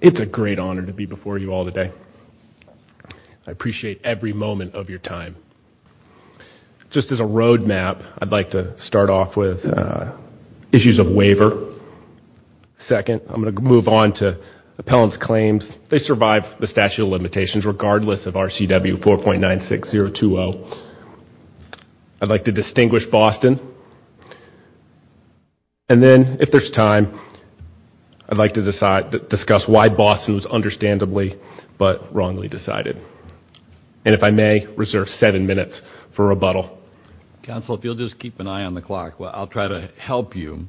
It's a great honor to be before you all today. I appreciate every moment of your time. Just as a roadmap, I'd like to start off with issues of waiver. Second, I'm going to move on to appellant's claims. They survived the statute of limitations regardless of RCW 4.96020. I'd like to distinguish Boston. And then, if there's time, I'd like to discuss why Boston was understandably but wrongly decided. And if I may, reserve seven minutes for rebuttal. Counsel, if you'll just keep an eye on the clock, I'll try to help you,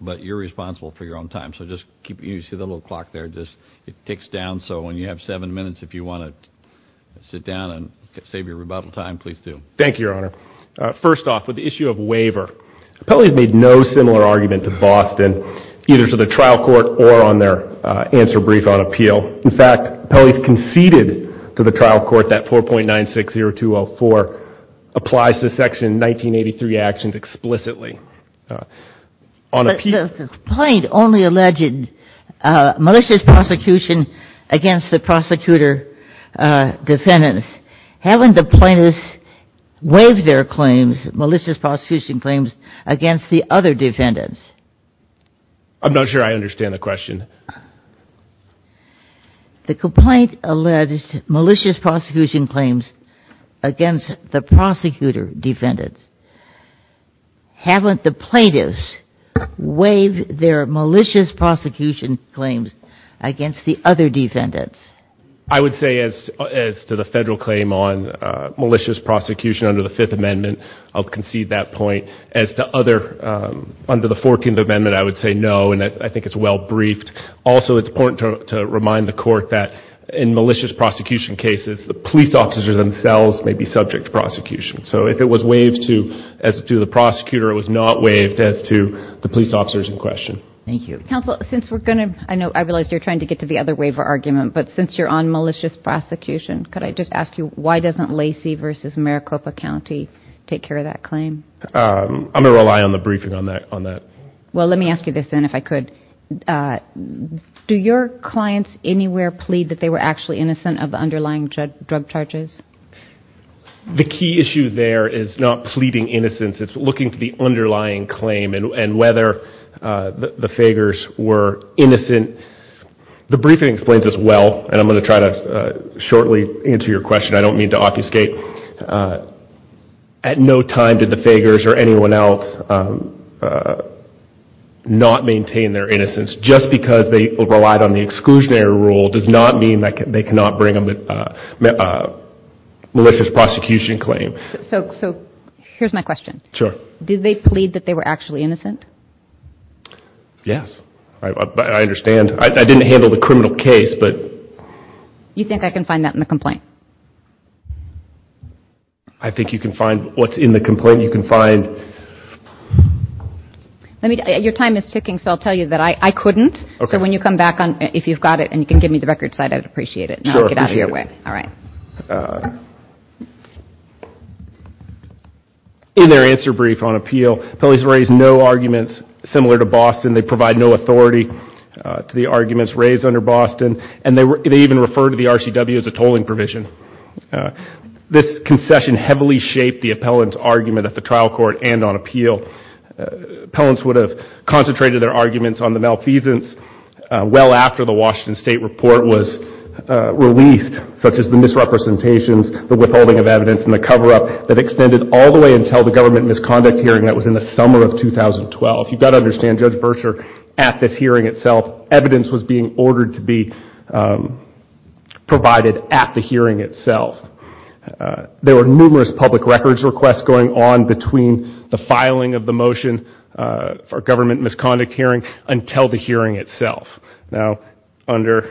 but you're responsible for your own time. So just keep, you see the little clock there, just it ticks down so when you have seven minutes, if you want to sit down and save your rebuttal time, please do. Thank you, Your Honor. First off, with the issue of waiver, Pelley's made no similar argument to Boston, either to the trial court or on their answer brief on appeal. In fact, Pelley's conceded to the trial court that 4.960204 applies to section 1983 actions explicitly. The complaint only alleged malicious prosecution against the prosecutor defendants. Haven't the plaintiffs waived their claims, malicious prosecution claims, against the other defendants? I'm not sure I understand the question. The complaint alleged malicious prosecution claims against the prosecutor defendants. Haven't the plaintiffs waived their claims, malicious prosecution claims, against the other defendants? I would say as to the federal claim on malicious prosecution under the Fifth Amendment, I'll concede that point. As to other, under the Fourteenth Amendment, I would say no, and I think it's well briefed. Also, it's important to remind the court that in malicious prosecution cases, the police officers themselves may be subject to prosecution. So if it was waived to, as to the prosecutor, it was not waived as to the police officers in question. Thank you. Counsel, since we're going to, I know I realize you're trying to get to the other waiver argument, but since you're on malicious prosecution, could I just ask you why doesn't Lacey v. Maricopa County take care of that claim? I'm gonna rely on the briefing on that, on that. Well, let me ask you this then, if I could. Do your clients anywhere plead that they were actually innocent of the underlying drug charges? The key issue there is not pleading innocence, it's looking to the underlying claim and whether the fakers were innocent. The briefing explains this well, and I'm going to try to shortly answer your question. I don't mean to obfuscate. At no time did the fakers or anyone else not maintain their innocence. Just because they relied on the exclusionary rule does not mean that they cannot bring them a malicious prosecution claim. So here's my question. Sure. Did they plead that they were actually innocent? Yes, I understand. I didn't handle the criminal case, but... You think I can find that in the complaint? I think you can find what's in the complaint. You can find... Let me, your time is ticking, so I'll tell you that I couldn't, so when you come back on, if you've got it and you can give me the record side, I'd appreciate it. Get out of your way. All right. In their answer to the brief on appeal, appellants raised no arguments similar to Boston. They provide no authority to the arguments raised under Boston, and they even refer to the RCW as a tolling provision. This concession heavily shaped the appellant's argument at the trial court and on appeal. Appellants would have concentrated their arguments on the malfeasance well after the Washington State report was released, such as the misrepresentations, the withholding of evidence, and the cover-up that extended all the way until the government misconduct hearing that was in the summer of 2012. You've got to understand Judge Verscher, at this hearing itself, evidence was being ordered to be provided at the hearing itself. There were numerous public records requests going on between the filing of the motion for government misconduct hearing until the hearing itself. Now, under...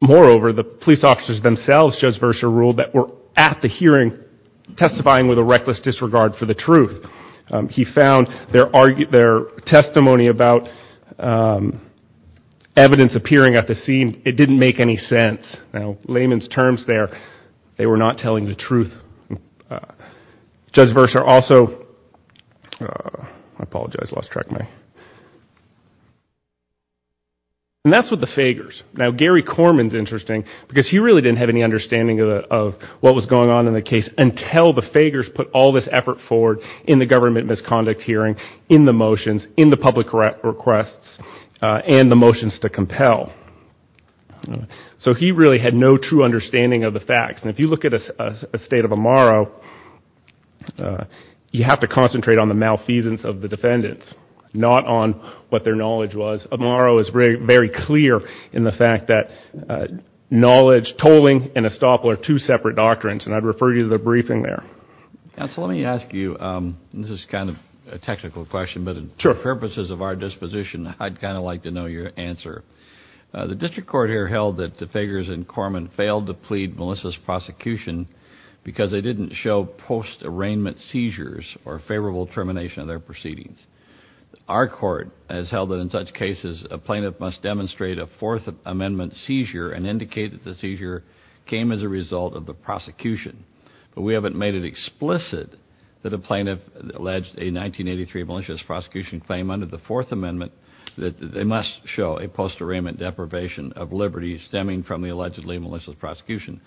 Moreover, the police officers themselves, Judge Verscher ruled, that were at the hearing testifying with a reckless disregard for the truth. He found their testimony about evidence appearing at the scene, it didn't make any sense. Now, layman's terms there, they were not telling the truth. Judge Verscher also... I apologize, lost track of my... And that's with the Fagers. Now, Gary Corman's interesting because he really didn't have any understanding of what was going on in the case until the Fagers put all this effort forward in the government misconduct hearing, in the motions, in the public requests, and the motions to compel. So he really had no true understanding of the facts. And if you look at a state of Amaro, you have to concentrate on the malfeasance of the defendants, not on what their knowledge was. Amaro is very clear in the fact that knowledge, tolling, and estoppel are two separate doctrines, and I'd refer you to the briefing there. Counsel, let me ask you, this is kind of a technical question, but for purposes of our disposition, I'd kind of like to know your answer. The district court here held that the Fagers and Corman failed to plead Melissa's prosecution because they didn't show post-arraignment seizures or favorable termination of their cases. A plaintiff must demonstrate a Fourth Amendment seizure and indicate that the seizure came as a result of the prosecution. But we haven't made it explicit that a plaintiff alleged a 1983 malicious prosecution claim under the Fourth Amendment that they must show a post-arraignment deprivation of liberty stemming from the allegedly malicious prosecution.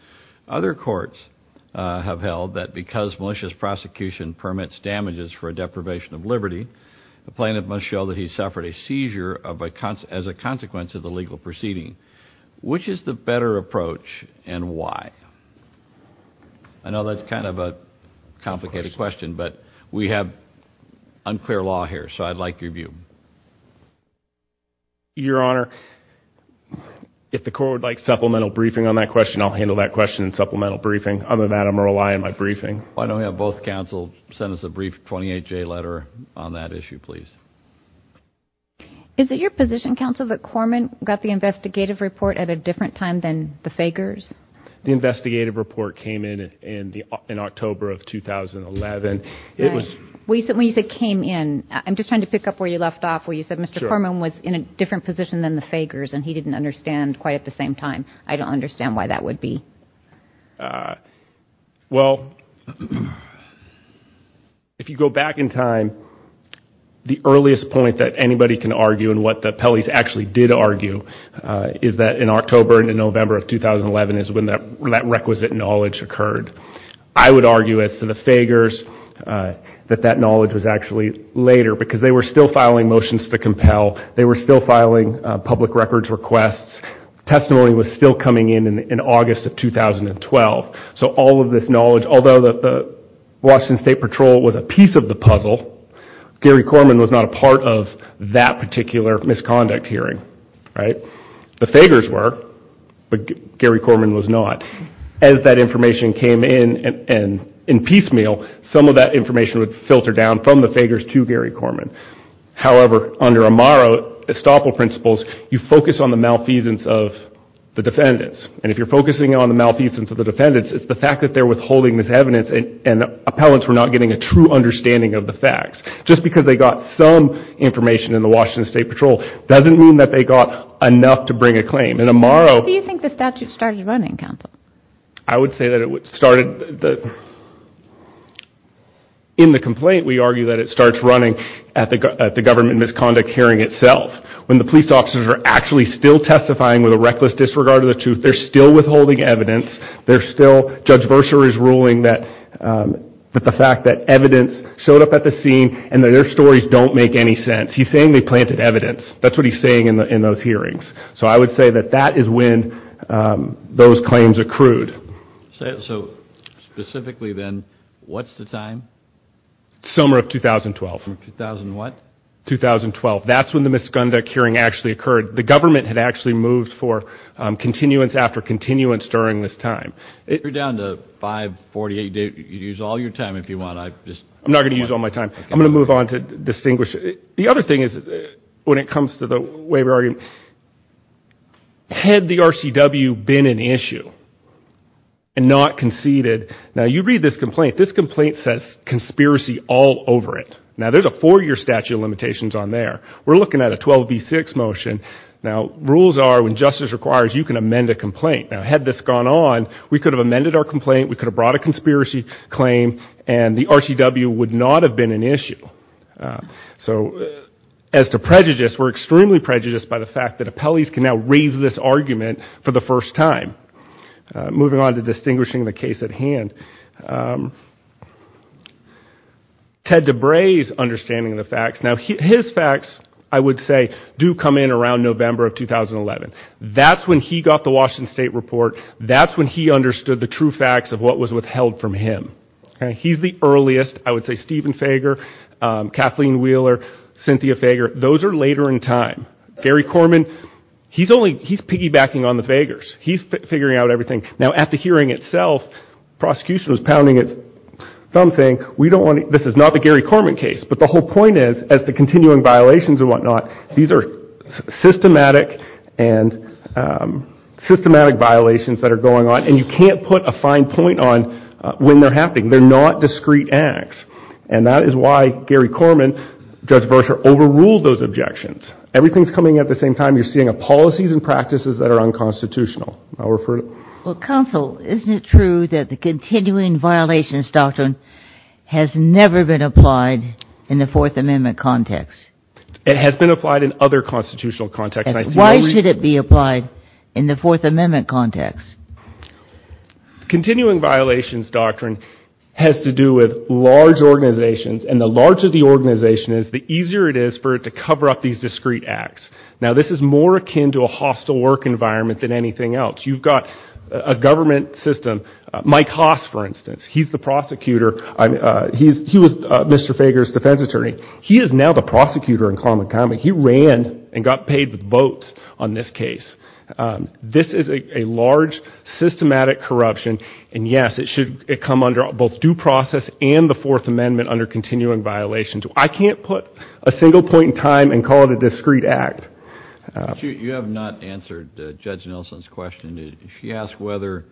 Other courts have held that because malicious prosecution permits damages for a deprivation of liberty, the as a consequence of the legal proceeding. Which is the better approach, and why? I know that's kind of a complicated question, but we have unclear law here, so I'd like your view. Your Honor, if the court would like supplemental briefing on that question, I'll handle that question in supplemental briefing. Other than that, I'm going to rely on my briefing. Why don't we have both counsel send us a brief 28-J letter on that issue, please. Is it your position, counsel, that Corman got the investigative report at a different time than the Fagers? The investigative report came in in October of 2011. When you said came in, I'm just trying to pick up where you left off, where you said Mr. Corman was in a different position than the Fagers, and he didn't understand quite at the same time. I don't understand why that would be. Well, if you go back in time, the earliest point that anybody can argue, and what the Pelley's actually did argue, is that in October and in November of 2011 is when that requisite knowledge occurred. I would argue, as to the Fagers, that that knowledge was actually later, because they were still filing motions to compel, they were still filing public records requests. Testimony was still coming in in August of 2012. So all of this knowledge, although the Washington State Patrol was a piece of the puzzle, Gary Corman was not a part of that particular misconduct hearing, right? The Fagers were, but Gary Corman was not. As that information came in and in piecemeal, some of that information would filter down from the Fagers to Gary on the malfeasance of the defendants. And if you're focusing on the malfeasance of the defendants, it's the fact that they're withholding this evidence and appellants were not getting a true understanding of the facts. Just because they got some information in the Washington State Patrol doesn't mean that they got enough to bring a claim. And Amaro... How do you think the statute started running, counsel? I would say that it started... in the complaint, we argue that it starts running at the government misconduct hearing itself, when the defendants are actually still testifying with a reckless disregard of the truth. They're still withholding evidence. They're still... Judge Verscher is ruling that the fact that evidence showed up at the scene and that their stories don't make any sense. He's saying they planted evidence. That's what he's saying in those hearings. So I would say that that is when those claims accrued. So specifically then, what's the time? Summer of 2012. 2012. That's when the government had actually moved for continuance after continuance during this time. You're down to 548 days. You can use all your time if you want. I'm not gonna use all my time. I'm gonna move on to distinguish. The other thing is, when it comes to the way we're arguing, had the RCW been an issue and not conceded... Now, you read this complaint. This complaint says conspiracy all over it. Now, there's a four-year statute of limitations on there. We're looking at a 12B6 motion. Now, rules are, when justice requires, you can amend a complaint. Now, had this gone on, we could have amended our complaint, we could have brought a conspiracy claim, and the RCW would not have been an issue. So, as to prejudice, we're extremely prejudiced by the fact that appellees can now raise this argument for the first time. Moving on to distinguishing the case at hand. Ted DeBray's understanding of the facts. Now, his facts, I would say, do come in around November of 2011. That's when he got the Washington State Report. That's when he understood the true facts of what was withheld from him. He's the earliest. I would say Stephen Fager, Kathleen Wheeler, Cynthia Fager, those are later in time. Gary Corman, he's only, he's piggybacking on the Fagers. He's figuring out everything. Now, at the hearing itself, prosecution was pounding its thumb, saying, we don't want, this is not the Gary Corman case, but the whole point is, as the continuing violations and whatnot, these are systematic and systematic violations that are going on, and you can't put a fine point on when they're happening. They're not discrete acts, and that is why Gary Corman, Judge Verscher, overruled those objections. Everything's coming at the same time. You're seeing policies and practices that are unconstitutional. I'll refer to... Well, counsel, isn't it true that the continuing violations doctrine has never been applied in the Fourth Amendment context? It has been applied in other constitutional context. Why should it be applied in the Fourth Amendment context? Continuing violations doctrine has to do with large organizations, and the larger the organization is, the easier it is for it to cover up these discrete acts. Now, this is more akin to a hostile work environment than anything else. You've got a government system. Mike Haas, for instance, he's the prosecutor. He was Mr. Fager's defense attorney. He is now the prosecutor in common common. He ran and got paid with votes on this case. This is a large systematic corruption, and yes, it should come under both due process and the Fourth Amendment under continuing violations. I can't put a single point in time and call it a She asked whether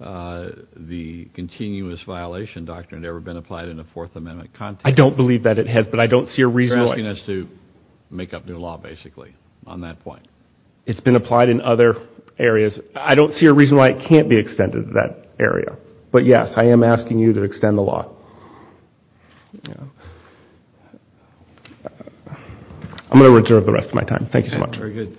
the continuous violation doctrine had ever been applied in a Fourth Amendment context. I don't believe that it has, but I don't see a reason why. She's asking us to make up new law, basically, on that point. It's been applied in other areas. I don't see a reason why it can't be extended to that area, but yes, I am asking you to extend the law. I'm going to reserve the rest of my time. Thank you so much. Good morning,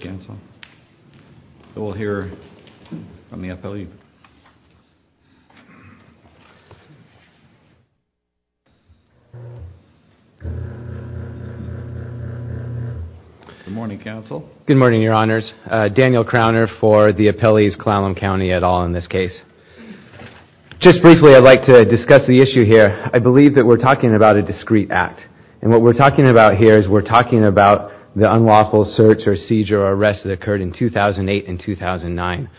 Council. Good morning, Your Honors. Daniel Crowner for the Appellees-Clallam County et al. in this case. Just briefly, I'd like to discuss the issue here. I believe that we're talking about a discrete act, and what that occurred in 2008 and 2009.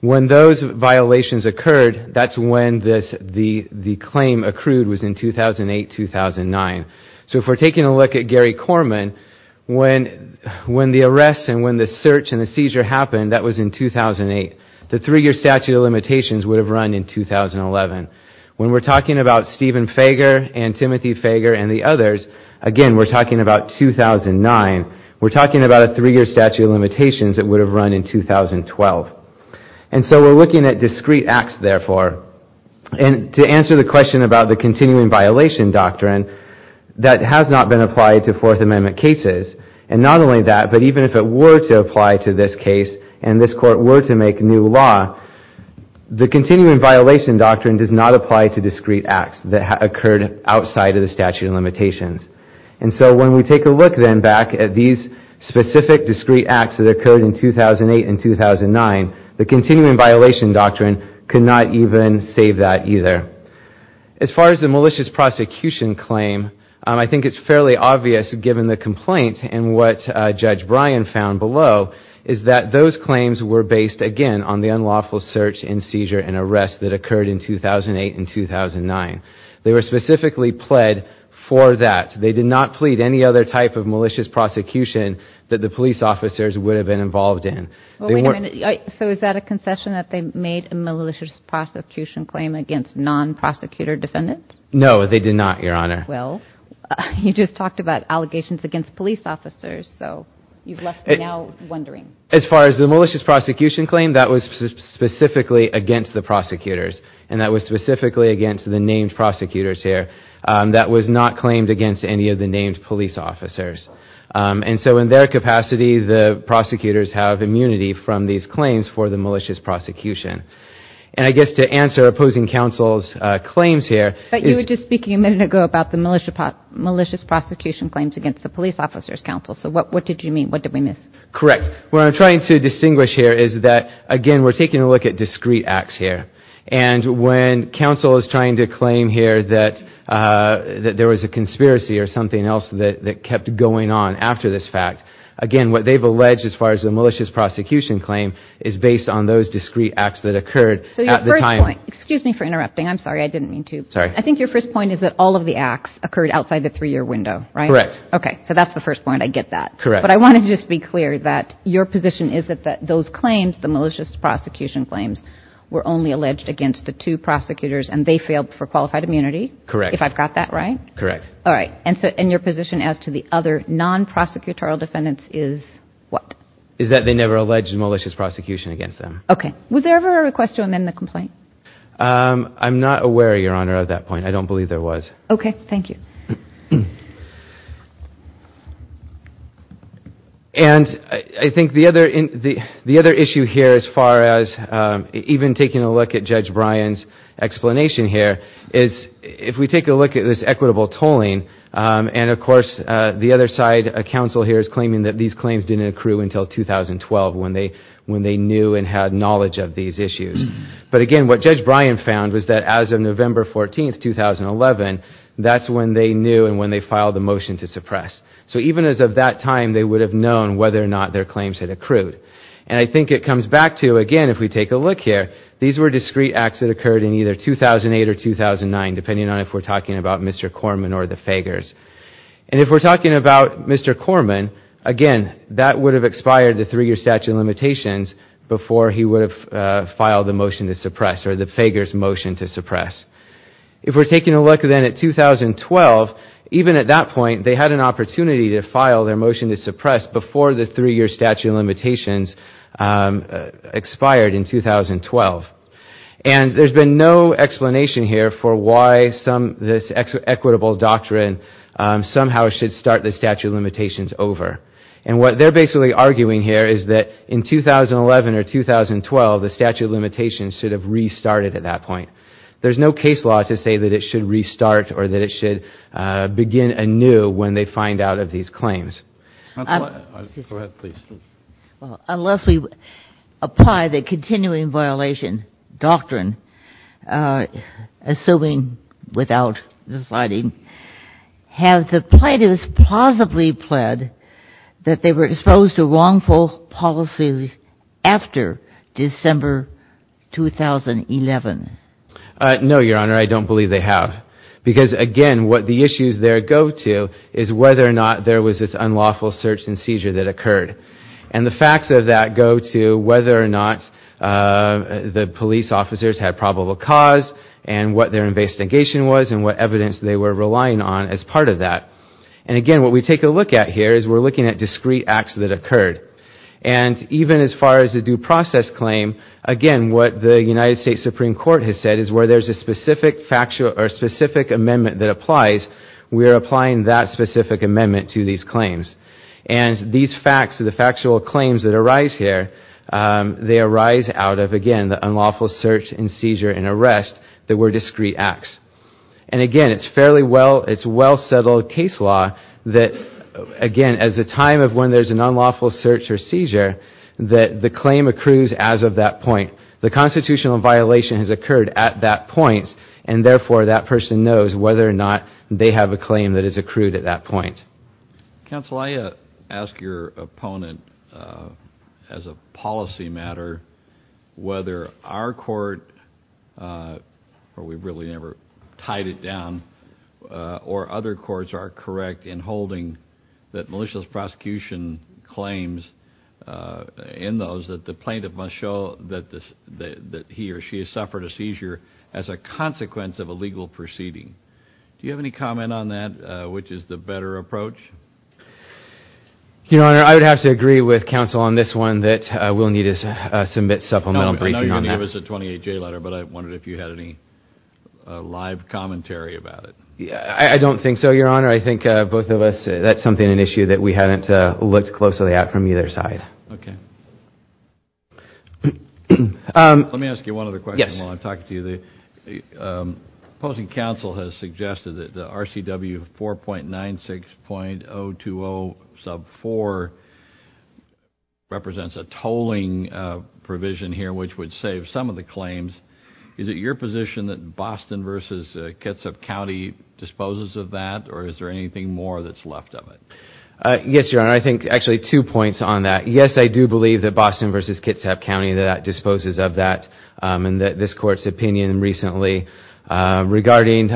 When those violations occurred, that's when the claim accrued was in 2008-2009. So if we're taking a look at Gary Corman, when the arrests and when the search and the seizure happened, that was in 2008. The three-year statute of limitations would have run in 2011. When we're talking about Stephen Fager and Timothy Fager and the others, again, we're talking about a three-year statute of limitations that would have run in 2012. And so we're looking at discrete acts, therefore. And to answer the question about the continuing violation doctrine, that has not been applied to Fourth Amendment cases. And not only that, but even if it were to apply to this case and this court were to make new law, the continuing violation doctrine does not apply to discrete acts that have occurred outside of the statute of limitations. Specific discrete acts that occurred in 2008 and 2009, the continuing violation doctrine could not even save that either. As far as the malicious prosecution claim, I think it's fairly obvious, given the complaint and what Judge Bryan found below, is that those claims were based, again, on the unlawful search and seizure and arrest that occurred in 2008 and 2009. They were specifically pled for that. They did not plead any other type of malicious prosecution that the police officers would have been involved in. So is that a concession that they made a malicious prosecution claim against non-prosecutor defendants? No, they did not, Your Honor. Well, you just talked about allegations against police officers, so you've left me now wondering. As far as the malicious prosecution claim, that was specifically against the prosecutors. And that was specifically against the named prosecutors here. That was not claimed against any of the named police officers. And so in their capacity, the prosecutors have immunity from these claims for the malicious prosecution. And I guess to answer opposing counsel's claims here... But you were just speaking a minute ago about the malicious prosecution claims against the police officers, counsel. So what did you mean? What did we miss? Correct. What I'm trying to distinguish here is that, again, we're taking a look at discrete acts here. And when counsel is trying to claim here that there was a conspiracy or something else that kept going on after this fact, again, what they've alleged as far as the malicious prosecution claim is based on those discrete acts that occurred at the time. Excuse me for interrupting. I'm sorry. I didn't mean to. Sorry. I think your first point is that all of the acts occurred outside the three-year window, right? Correct. Okay, so that's the first point. I get that. Correct. But I want to just be clear that your position is that those claims, the malicious prosecution claims, were only alleged against the two prosecutors, and they failed for qualified immunity. Correct. If I've got that right? Correct. All right. And so in your position as to the other non-prosecutorial defendants is what? Is that they never alleged malicious prosecution against them. Okay. Was there ever a request to amend the complaint? I'm not aware, Your Honor, of that point. I don't believe there was. Okay. Thank you. And I think the other issue here, as far as even taking a look at Judge Bryan's explanation here, is if we take a look at this equitable tolling, and of course the other side, a counsel here, is claiming that these claims didn't accrue until 2012 when they knew and had knowledge of these issues. But again, what Judge Bryan found was that as of November 14th, 2011, that's when they knew and when they filed the motion to suppress. So even as of that time, they would have known whether or not their claims had accrued. And I think it comes back to, again, if we take a look here, these were discrete acts that occurred in either 2008 or 2009, depending on if we're talking about Mr. Corman or the Fagers. And if we're talking about Mr. Corman, again, that would have expired the three-year statute of limitations before he would have filed the motion to suppress, or the Fagers' motion to suppress. If we're taking a look then at 2012, even at that point, they had an opportunity to file their motion to suppress before the three-year statute of limitations expired in 2012. And there's been no explanation here for why this equitable doctrine somehow should start the statute of limitations over. And what they're basically arguing here is that in 2011 or 2012, the statute of limitations should have restarted at that point. There's no case law to say that it should restart or that it should begin anew when they find out of these Well, unless we apply the continuing violation doctrine, assuming without deciding, have the plaintiffs plausibly pled that they were exposed to wrongful policies after December 2011? No, Your Honor, I don't believe they have. Because, again, what the issues there go to is whether or not there was this unlawful search and seizure that And the facts of that go to whether or not the police officers had probable cause and what their investigation was and what evidence they were relying on as part of that. And, again, what we take a look at here is we're looking at discrete acts that occurred. And even as far as a due process claim, again, what the United States Supreme Court has said is where there's a specific amendment that applies, we're applying that specific amendment to these claims. And these facts, the factual claims that arise here, they arise out of, again, the unlawful search and seizure and arrest that were discrete acts. And, again, it's fairly well, it's well-settled case law that, again, as a time of when there's an unlawful search or seizure, that the claim accrues as of that point. The constitutional violation has occurred at that point. And, therefore, that person knows whether or not they have a claim that is accrued at that point. Counsel, I ask your opponent, as a policy matter, whether our court, or we've really never tied it down, or other courts are correct in holding that malicious prosecution claims in those that the plaintiff must show that this that he or she has suffered a seizure as a consequence of a legal proceeding. Do you support that approach? Your Honor, I would have to agree with counsel on this one that we'll need to submit supplemental briefing on that. I know you're going to give us a 28-J letter, but I wondered if you had any live commentary about it. Yeah, I don't think so, Your Honor. I think both of us, that's something, an issue that we hadn't looked closely at from either side. Okay. Let me ask you one other question while I'm talking to you. Opposing counsel has suggested that the RCW 4.96.020 sub 4 represents a tolling provision here, which would save some of the claims. Is it your position that Boston v. Kitsap County disposes of that, or is there anything more that's left of it? Yes, Your Honor. I think, actually, two points on that. Yes, I do believe that Boston v. Kitsap County disposes of that, and that this opinion recently regarding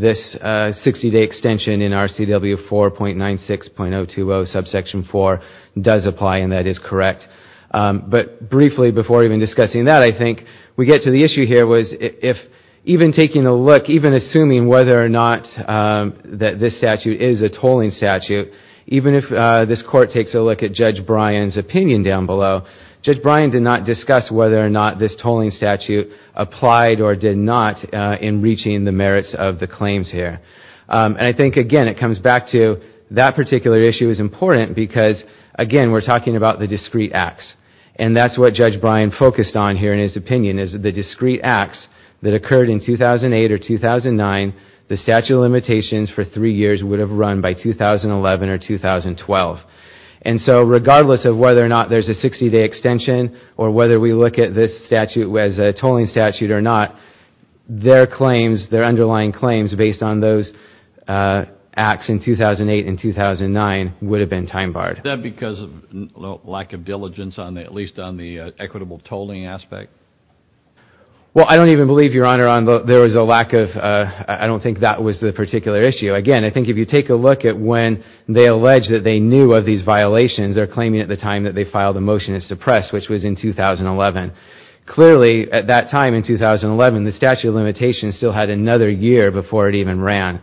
this 60-day extension in RCW 4.96.020 subsection 4 does apply, and that is correct. But briefly, before even discussing that, I think we get to the issue here was if even taking a look, even assuming whether or not that this statute is a tolling statute, even if this court takes a look at Judge Bryan's opinion down below, Judge Bryan did not this tolling statute applied or did not in reaching the merits of the claims here. And I think, again, it comes back to that particular issue is important because, again, we're talking about the discrete acts, and that's what Judge Bryan focused on here in his opinion is the discrete acts that occurred in 2008 or 2009, the statute of limitations for three years would have run by 2011 or 2012. And so regardless of whether or not there's a 60-day extension or whether we look at this statute as a tolling statute or not, their claims, their underlying claims based on those acts in 2008 and 2009 would have been time-barred. Is that because of lack of diligence on at least on the equitable tolling aspect? Well, I don't even believe, Your Honor, there was a lack of, I don't think that was the particular issue. Again, I think if you take a look at when they allege that they knew of these violations, they're claiming at the time that they filed a motion to suppress, which was in 2011. Clearly, at that time in 2011, the statute of limitations still had another year before it even ran.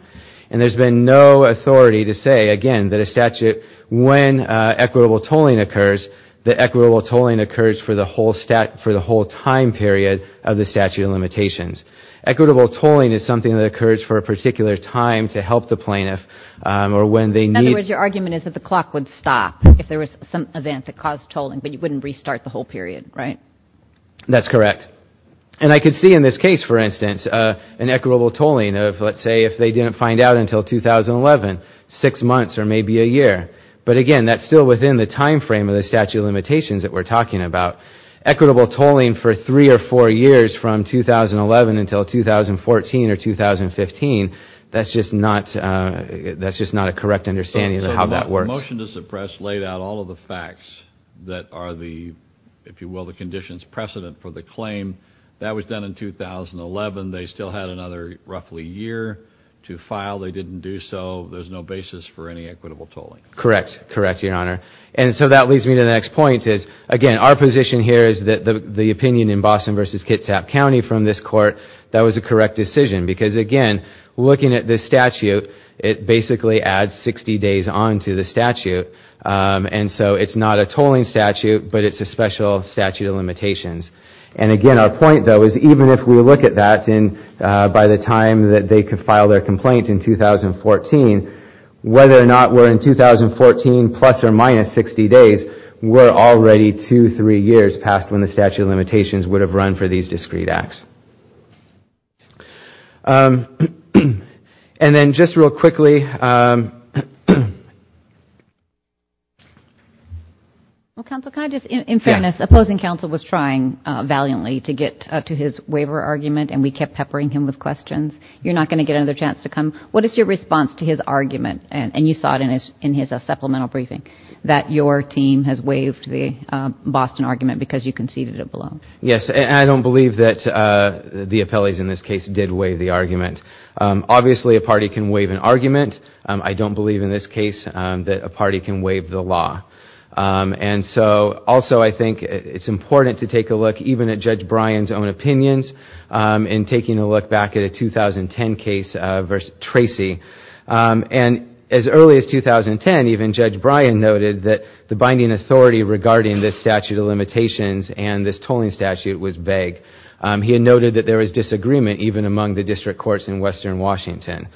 And there's been no authority to say, again, that a statute, when equitable tolling occurs, the equitable tolling occurs for the whole time period of the statute of limitations. Equitable tolling is something that occurs for a particular time to help the plaintiff or when they need... In other words, your argument is that the clock would stop if there was some event that caused tolling, but you wouldn't restart the whole period, right? That's correct. And I could see in this case, for instance, an equitable tolling of, let's say, if they didn't find out until 2011, six months or maybe a year. But again, that's still within the time frame of the statute of limitations that we're talking about. Equitable tolling for three or four years from 2011 until 2014 or 2015, that's just not a correct understanding of how that works. The motion to suppress laid out all of the facts that are the, if you will, the conditions precedent for the claim. That was done in 2011. They still had another roughly year to file. They didn't do so. There's no basis for any equitable tolling. Correct. Correct, Your Honor. And so that leads me to the next point is, again, our position here is that the opinion in Boston v. Kitsap County from this court, that was a correct decision. Because again, looking at this statute, it basically adds 60 days on to the statute. And so it's not a tolling statute, but it's a special statute of limitations. And again, our point, though, is even if we look at that by the time that they could file their complaint in 2014, whether or not we're in 2014 plus or minus 60 days, we're already two, three years past when the discreet acts. And then just real quickly. Well, counsel, can I just, in fairness, opposing counsel was trying valiantly to get to his waiver argument and we kept peppering him with questions. You're not going to get another chance to come. What is your response to his argument, and you saw it in his supplemental briefing, that your team has waived the Boston argument because you conceded it Yes, and I don't believe that the appellees in this case did waive the argument. Obviously, a party can waive an argument. I don't believe in this case that a party can waive the law. And so also, I think it's important to take a look even at Judge Bryan's own opinions in taking a look back at a 2010 case versus Tracy. And as early as 2010, even Judge Bryan noted that the binding authority regarding this statute of limitations and this tolling statute was vague. He had noted that there was disagreement even among the district courts in western Washington.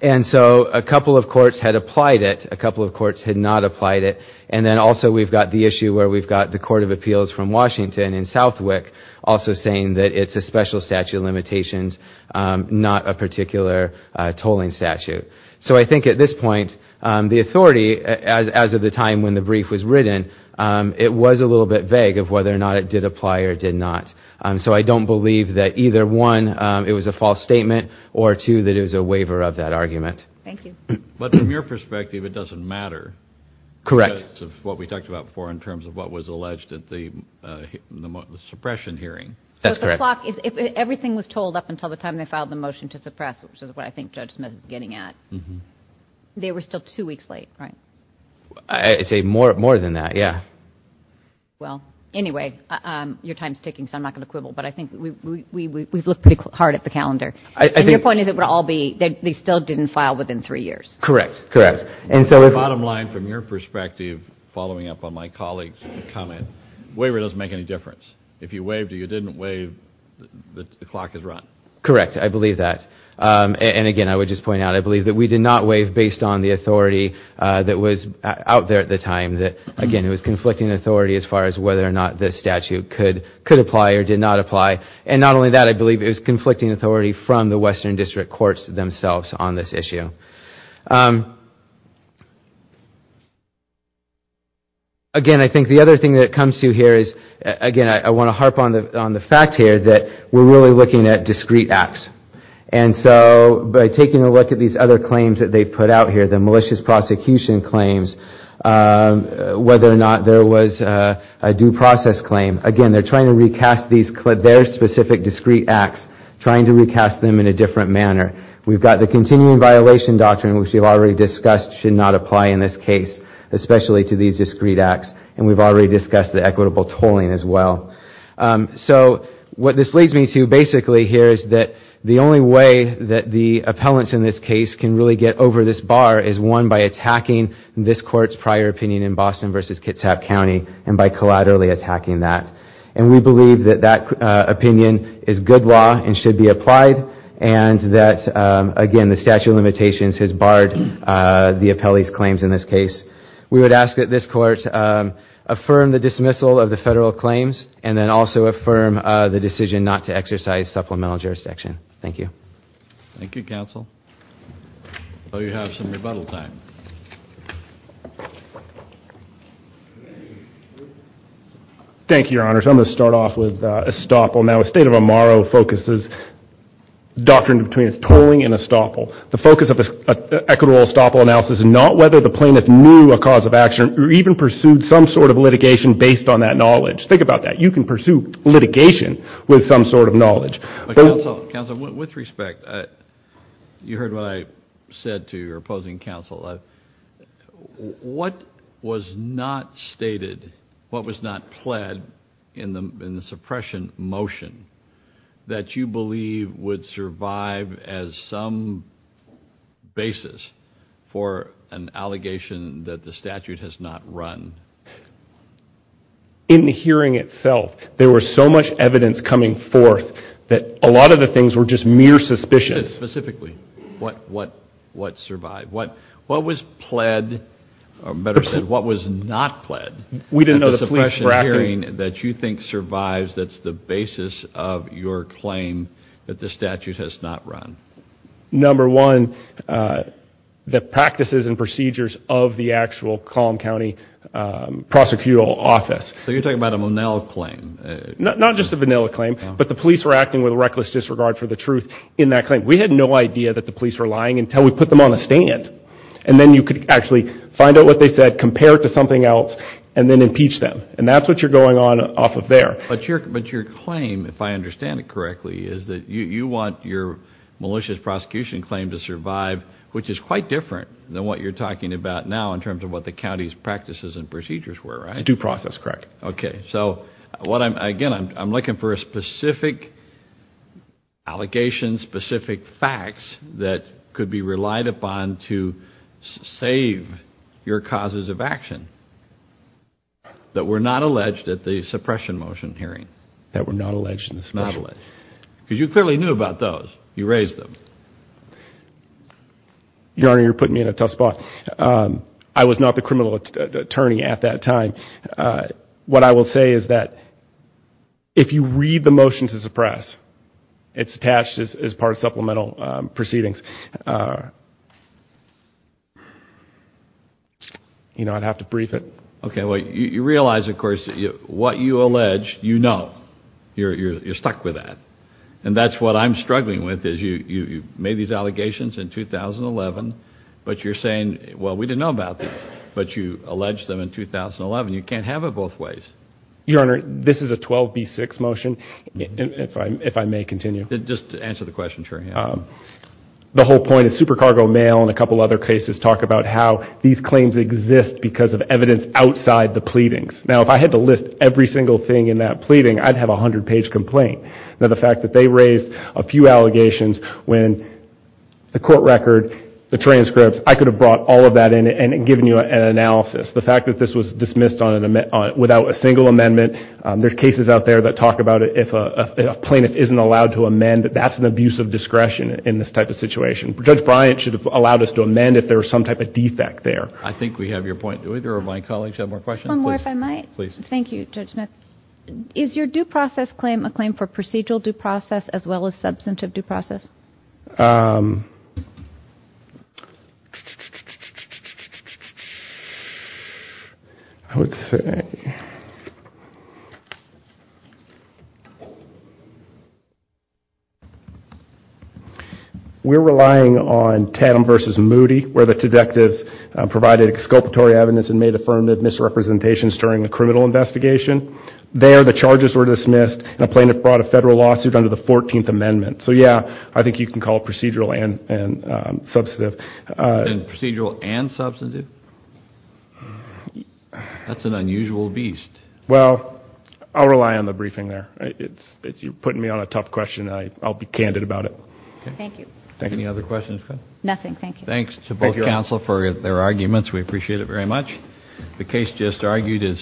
And so a couple of courts had applied it, a couple of courts had not applied it, and then also we've got the issue where we've got the Court of Appeals from Washington in Southwick also saying that it's a special statute of limitations, not a particular tolling statute. So I think at this point, the authority, as of the time when the brief was written, it was a little bit vague of whether or not it did apply or did not. And so I don't believe that either one, it was a false statement, or two, that it was a waiver of that argument. Thank you. But from your perspective, it doesn't matter. Correct. What we talked about before in terms of what was alleged at the suppression hearing. That's correct. If everything was told up until the time they filed the they were still two weeks late, right? I'd say more than that, yeah. Well, anyway, your time's ticking, so I'm not going to quibble, but I think we've looked pretty hard at the calendar. And your point is it would all be, they still didn't file within three years. Correct, correct. And so the bottom line, from your perspective, following up on my colleagues' comment, waiver doesn't make any difference. If you waived or you didn't waive, the clock is run. Correct, I believe that. And again, I believe it was based on the authority that was out there at the time that, again, it was conflicting authority as far as whether or not this statute could apply or did not apply. And not only that, I believe it was conflicting authority from the Western District Courts themselves on this issue. Again, I think the other thing that comes to you here is, again, I want to harp on the fact here that we're really looking at discrete acts. And so by taking a look at these other claims that they put out here, the malicious prosecution claims, whether or not there was a due process claim, again, they're trying to recast these, their specific discrete acts, trying to recast them in a different manner. We've got the continuing violation doctrine, which we've already discussed should not apply in this case, especially to these discrete acts. And we've already discussed the equitable tolling as well. So what this leads me to, basically, here is that the only way that the appellants in this case can really get over this bar is, one, by attacking this court's prior opinion in Boston versus Kitsap County, and by collaterally attacking that. And we believe that that opinion is good law and should be applied, and that, again, the statute of limitations has barred the appellees' claims in this case. We would ask that this court affirm the dismissal of the federal claims, and then also affirm the decision not to exercise supplemental jurisdiction. Thank you. Thank you, counsel. Thank you, Your Honors. I'm going to start off with estoppel. Now, a state of amaro focuses doctrine between tolling and estoppel. The focus of this equitable estoppel analysis is not whether the plaintiff knew a cause of action or even pursued some sort of litigation based on that knowledge. Think about that. You can Counsel, with respect, you heard what I said to your opposing counsel. What was not stated, what was not pled in the suppression motion that you believe would survive as some basis for an allegation that the statute has not run? In the hearing itself, there was so much evidence coming forth that a lot of the things were just mere suspicions. Specifically, what what what survived, what what was pled, or better said, what was not pled? We didn't know the police hearing that you think survives that's the basis of your claim that the statute has not run. Number one, the practices and procedures of the actual Kalm County prosecutorial office. So you're talking about a vanilla claim? Not just a vanilla claim, but the police were acting with reckless disregard for the truth in that claim. We had no idea that the police were lying until we put them on a stand and then you could actually find out what they said, compare it to something else, and then impeach them. And that's what you're going on off of there. But your claim, if I understand it correctly, is that you want your malicious prosecution claim to survive, which is quite different than what you're talking about now in terms of what the county's practices and procedures were, right? It's due process, correct. Okay, so what I'm, again, I'm looking for a specific allegation, specific facts that could be relied upon to save your causes of action that were not alleged at the suppression motion hearing. That were not alleged in the suppression? Not alleged. Because you clearly knew about those. You raised them. Your Honor, you're putting me in a tough spot. I was not the criminal attorney at that time. What I will say is that if you read the motion to suppress, it's attached as part of supplemental proceedings. You know, I'd have to brief it. Okay, well, you realize, of course, what you allege, you know. You're stuck with that. And that's what I'm struggling with, is you made these allegations in 2011, but you're saying, well, we didn't know about these, but you alleged them in 2011. You can't have it both ways. Your Honor, this is a 12b6 motion, if I may continue. Just answer the question, sure. The whole point is Super Cargo Mail and a couple other cases talk about how these claims exist because of evidence outside the pleadings. Now, if I had to list every single thing in that pleading, I'd have a hundred page complaint. Now, the fact that they raised a few allegations when the court record, the transcripts, I could have brought all of that in and given you an analysis. The fact that this was dismissed without a single amendment, there's cases out there that talk about it, if a plaintiff isn't allowed to amend, that's an abuse of discretion in this type of situation. Judge Bryant should have allowed us to amend if there was some type of defect there. I think we have your point, do either of my colleagues have more questions? One more, if I might. Please. Thank you, Judge Smith. Is your due process claim a claim for procedural due process as well as substantive due process? I would say, we're relying on Tadham versus Moody, where the detectives provided exculpatory evidence and made affirmative misrepresentations during the criminal investigation. There, the charges were dismissed and a plaintiff brought a federal lawsuit under the 14th Amendment. So yeah, I think you can call procedural and substantive. Procedural and substantive? That's an unusual beast. Well, I'll rely on the briefing there. You're putting me on a tough question. I'll be candid about it. Thank you. Any other questions? Nothing, thank you. Thanks to both counsel for their arguments, we appreciate it very much. The amendment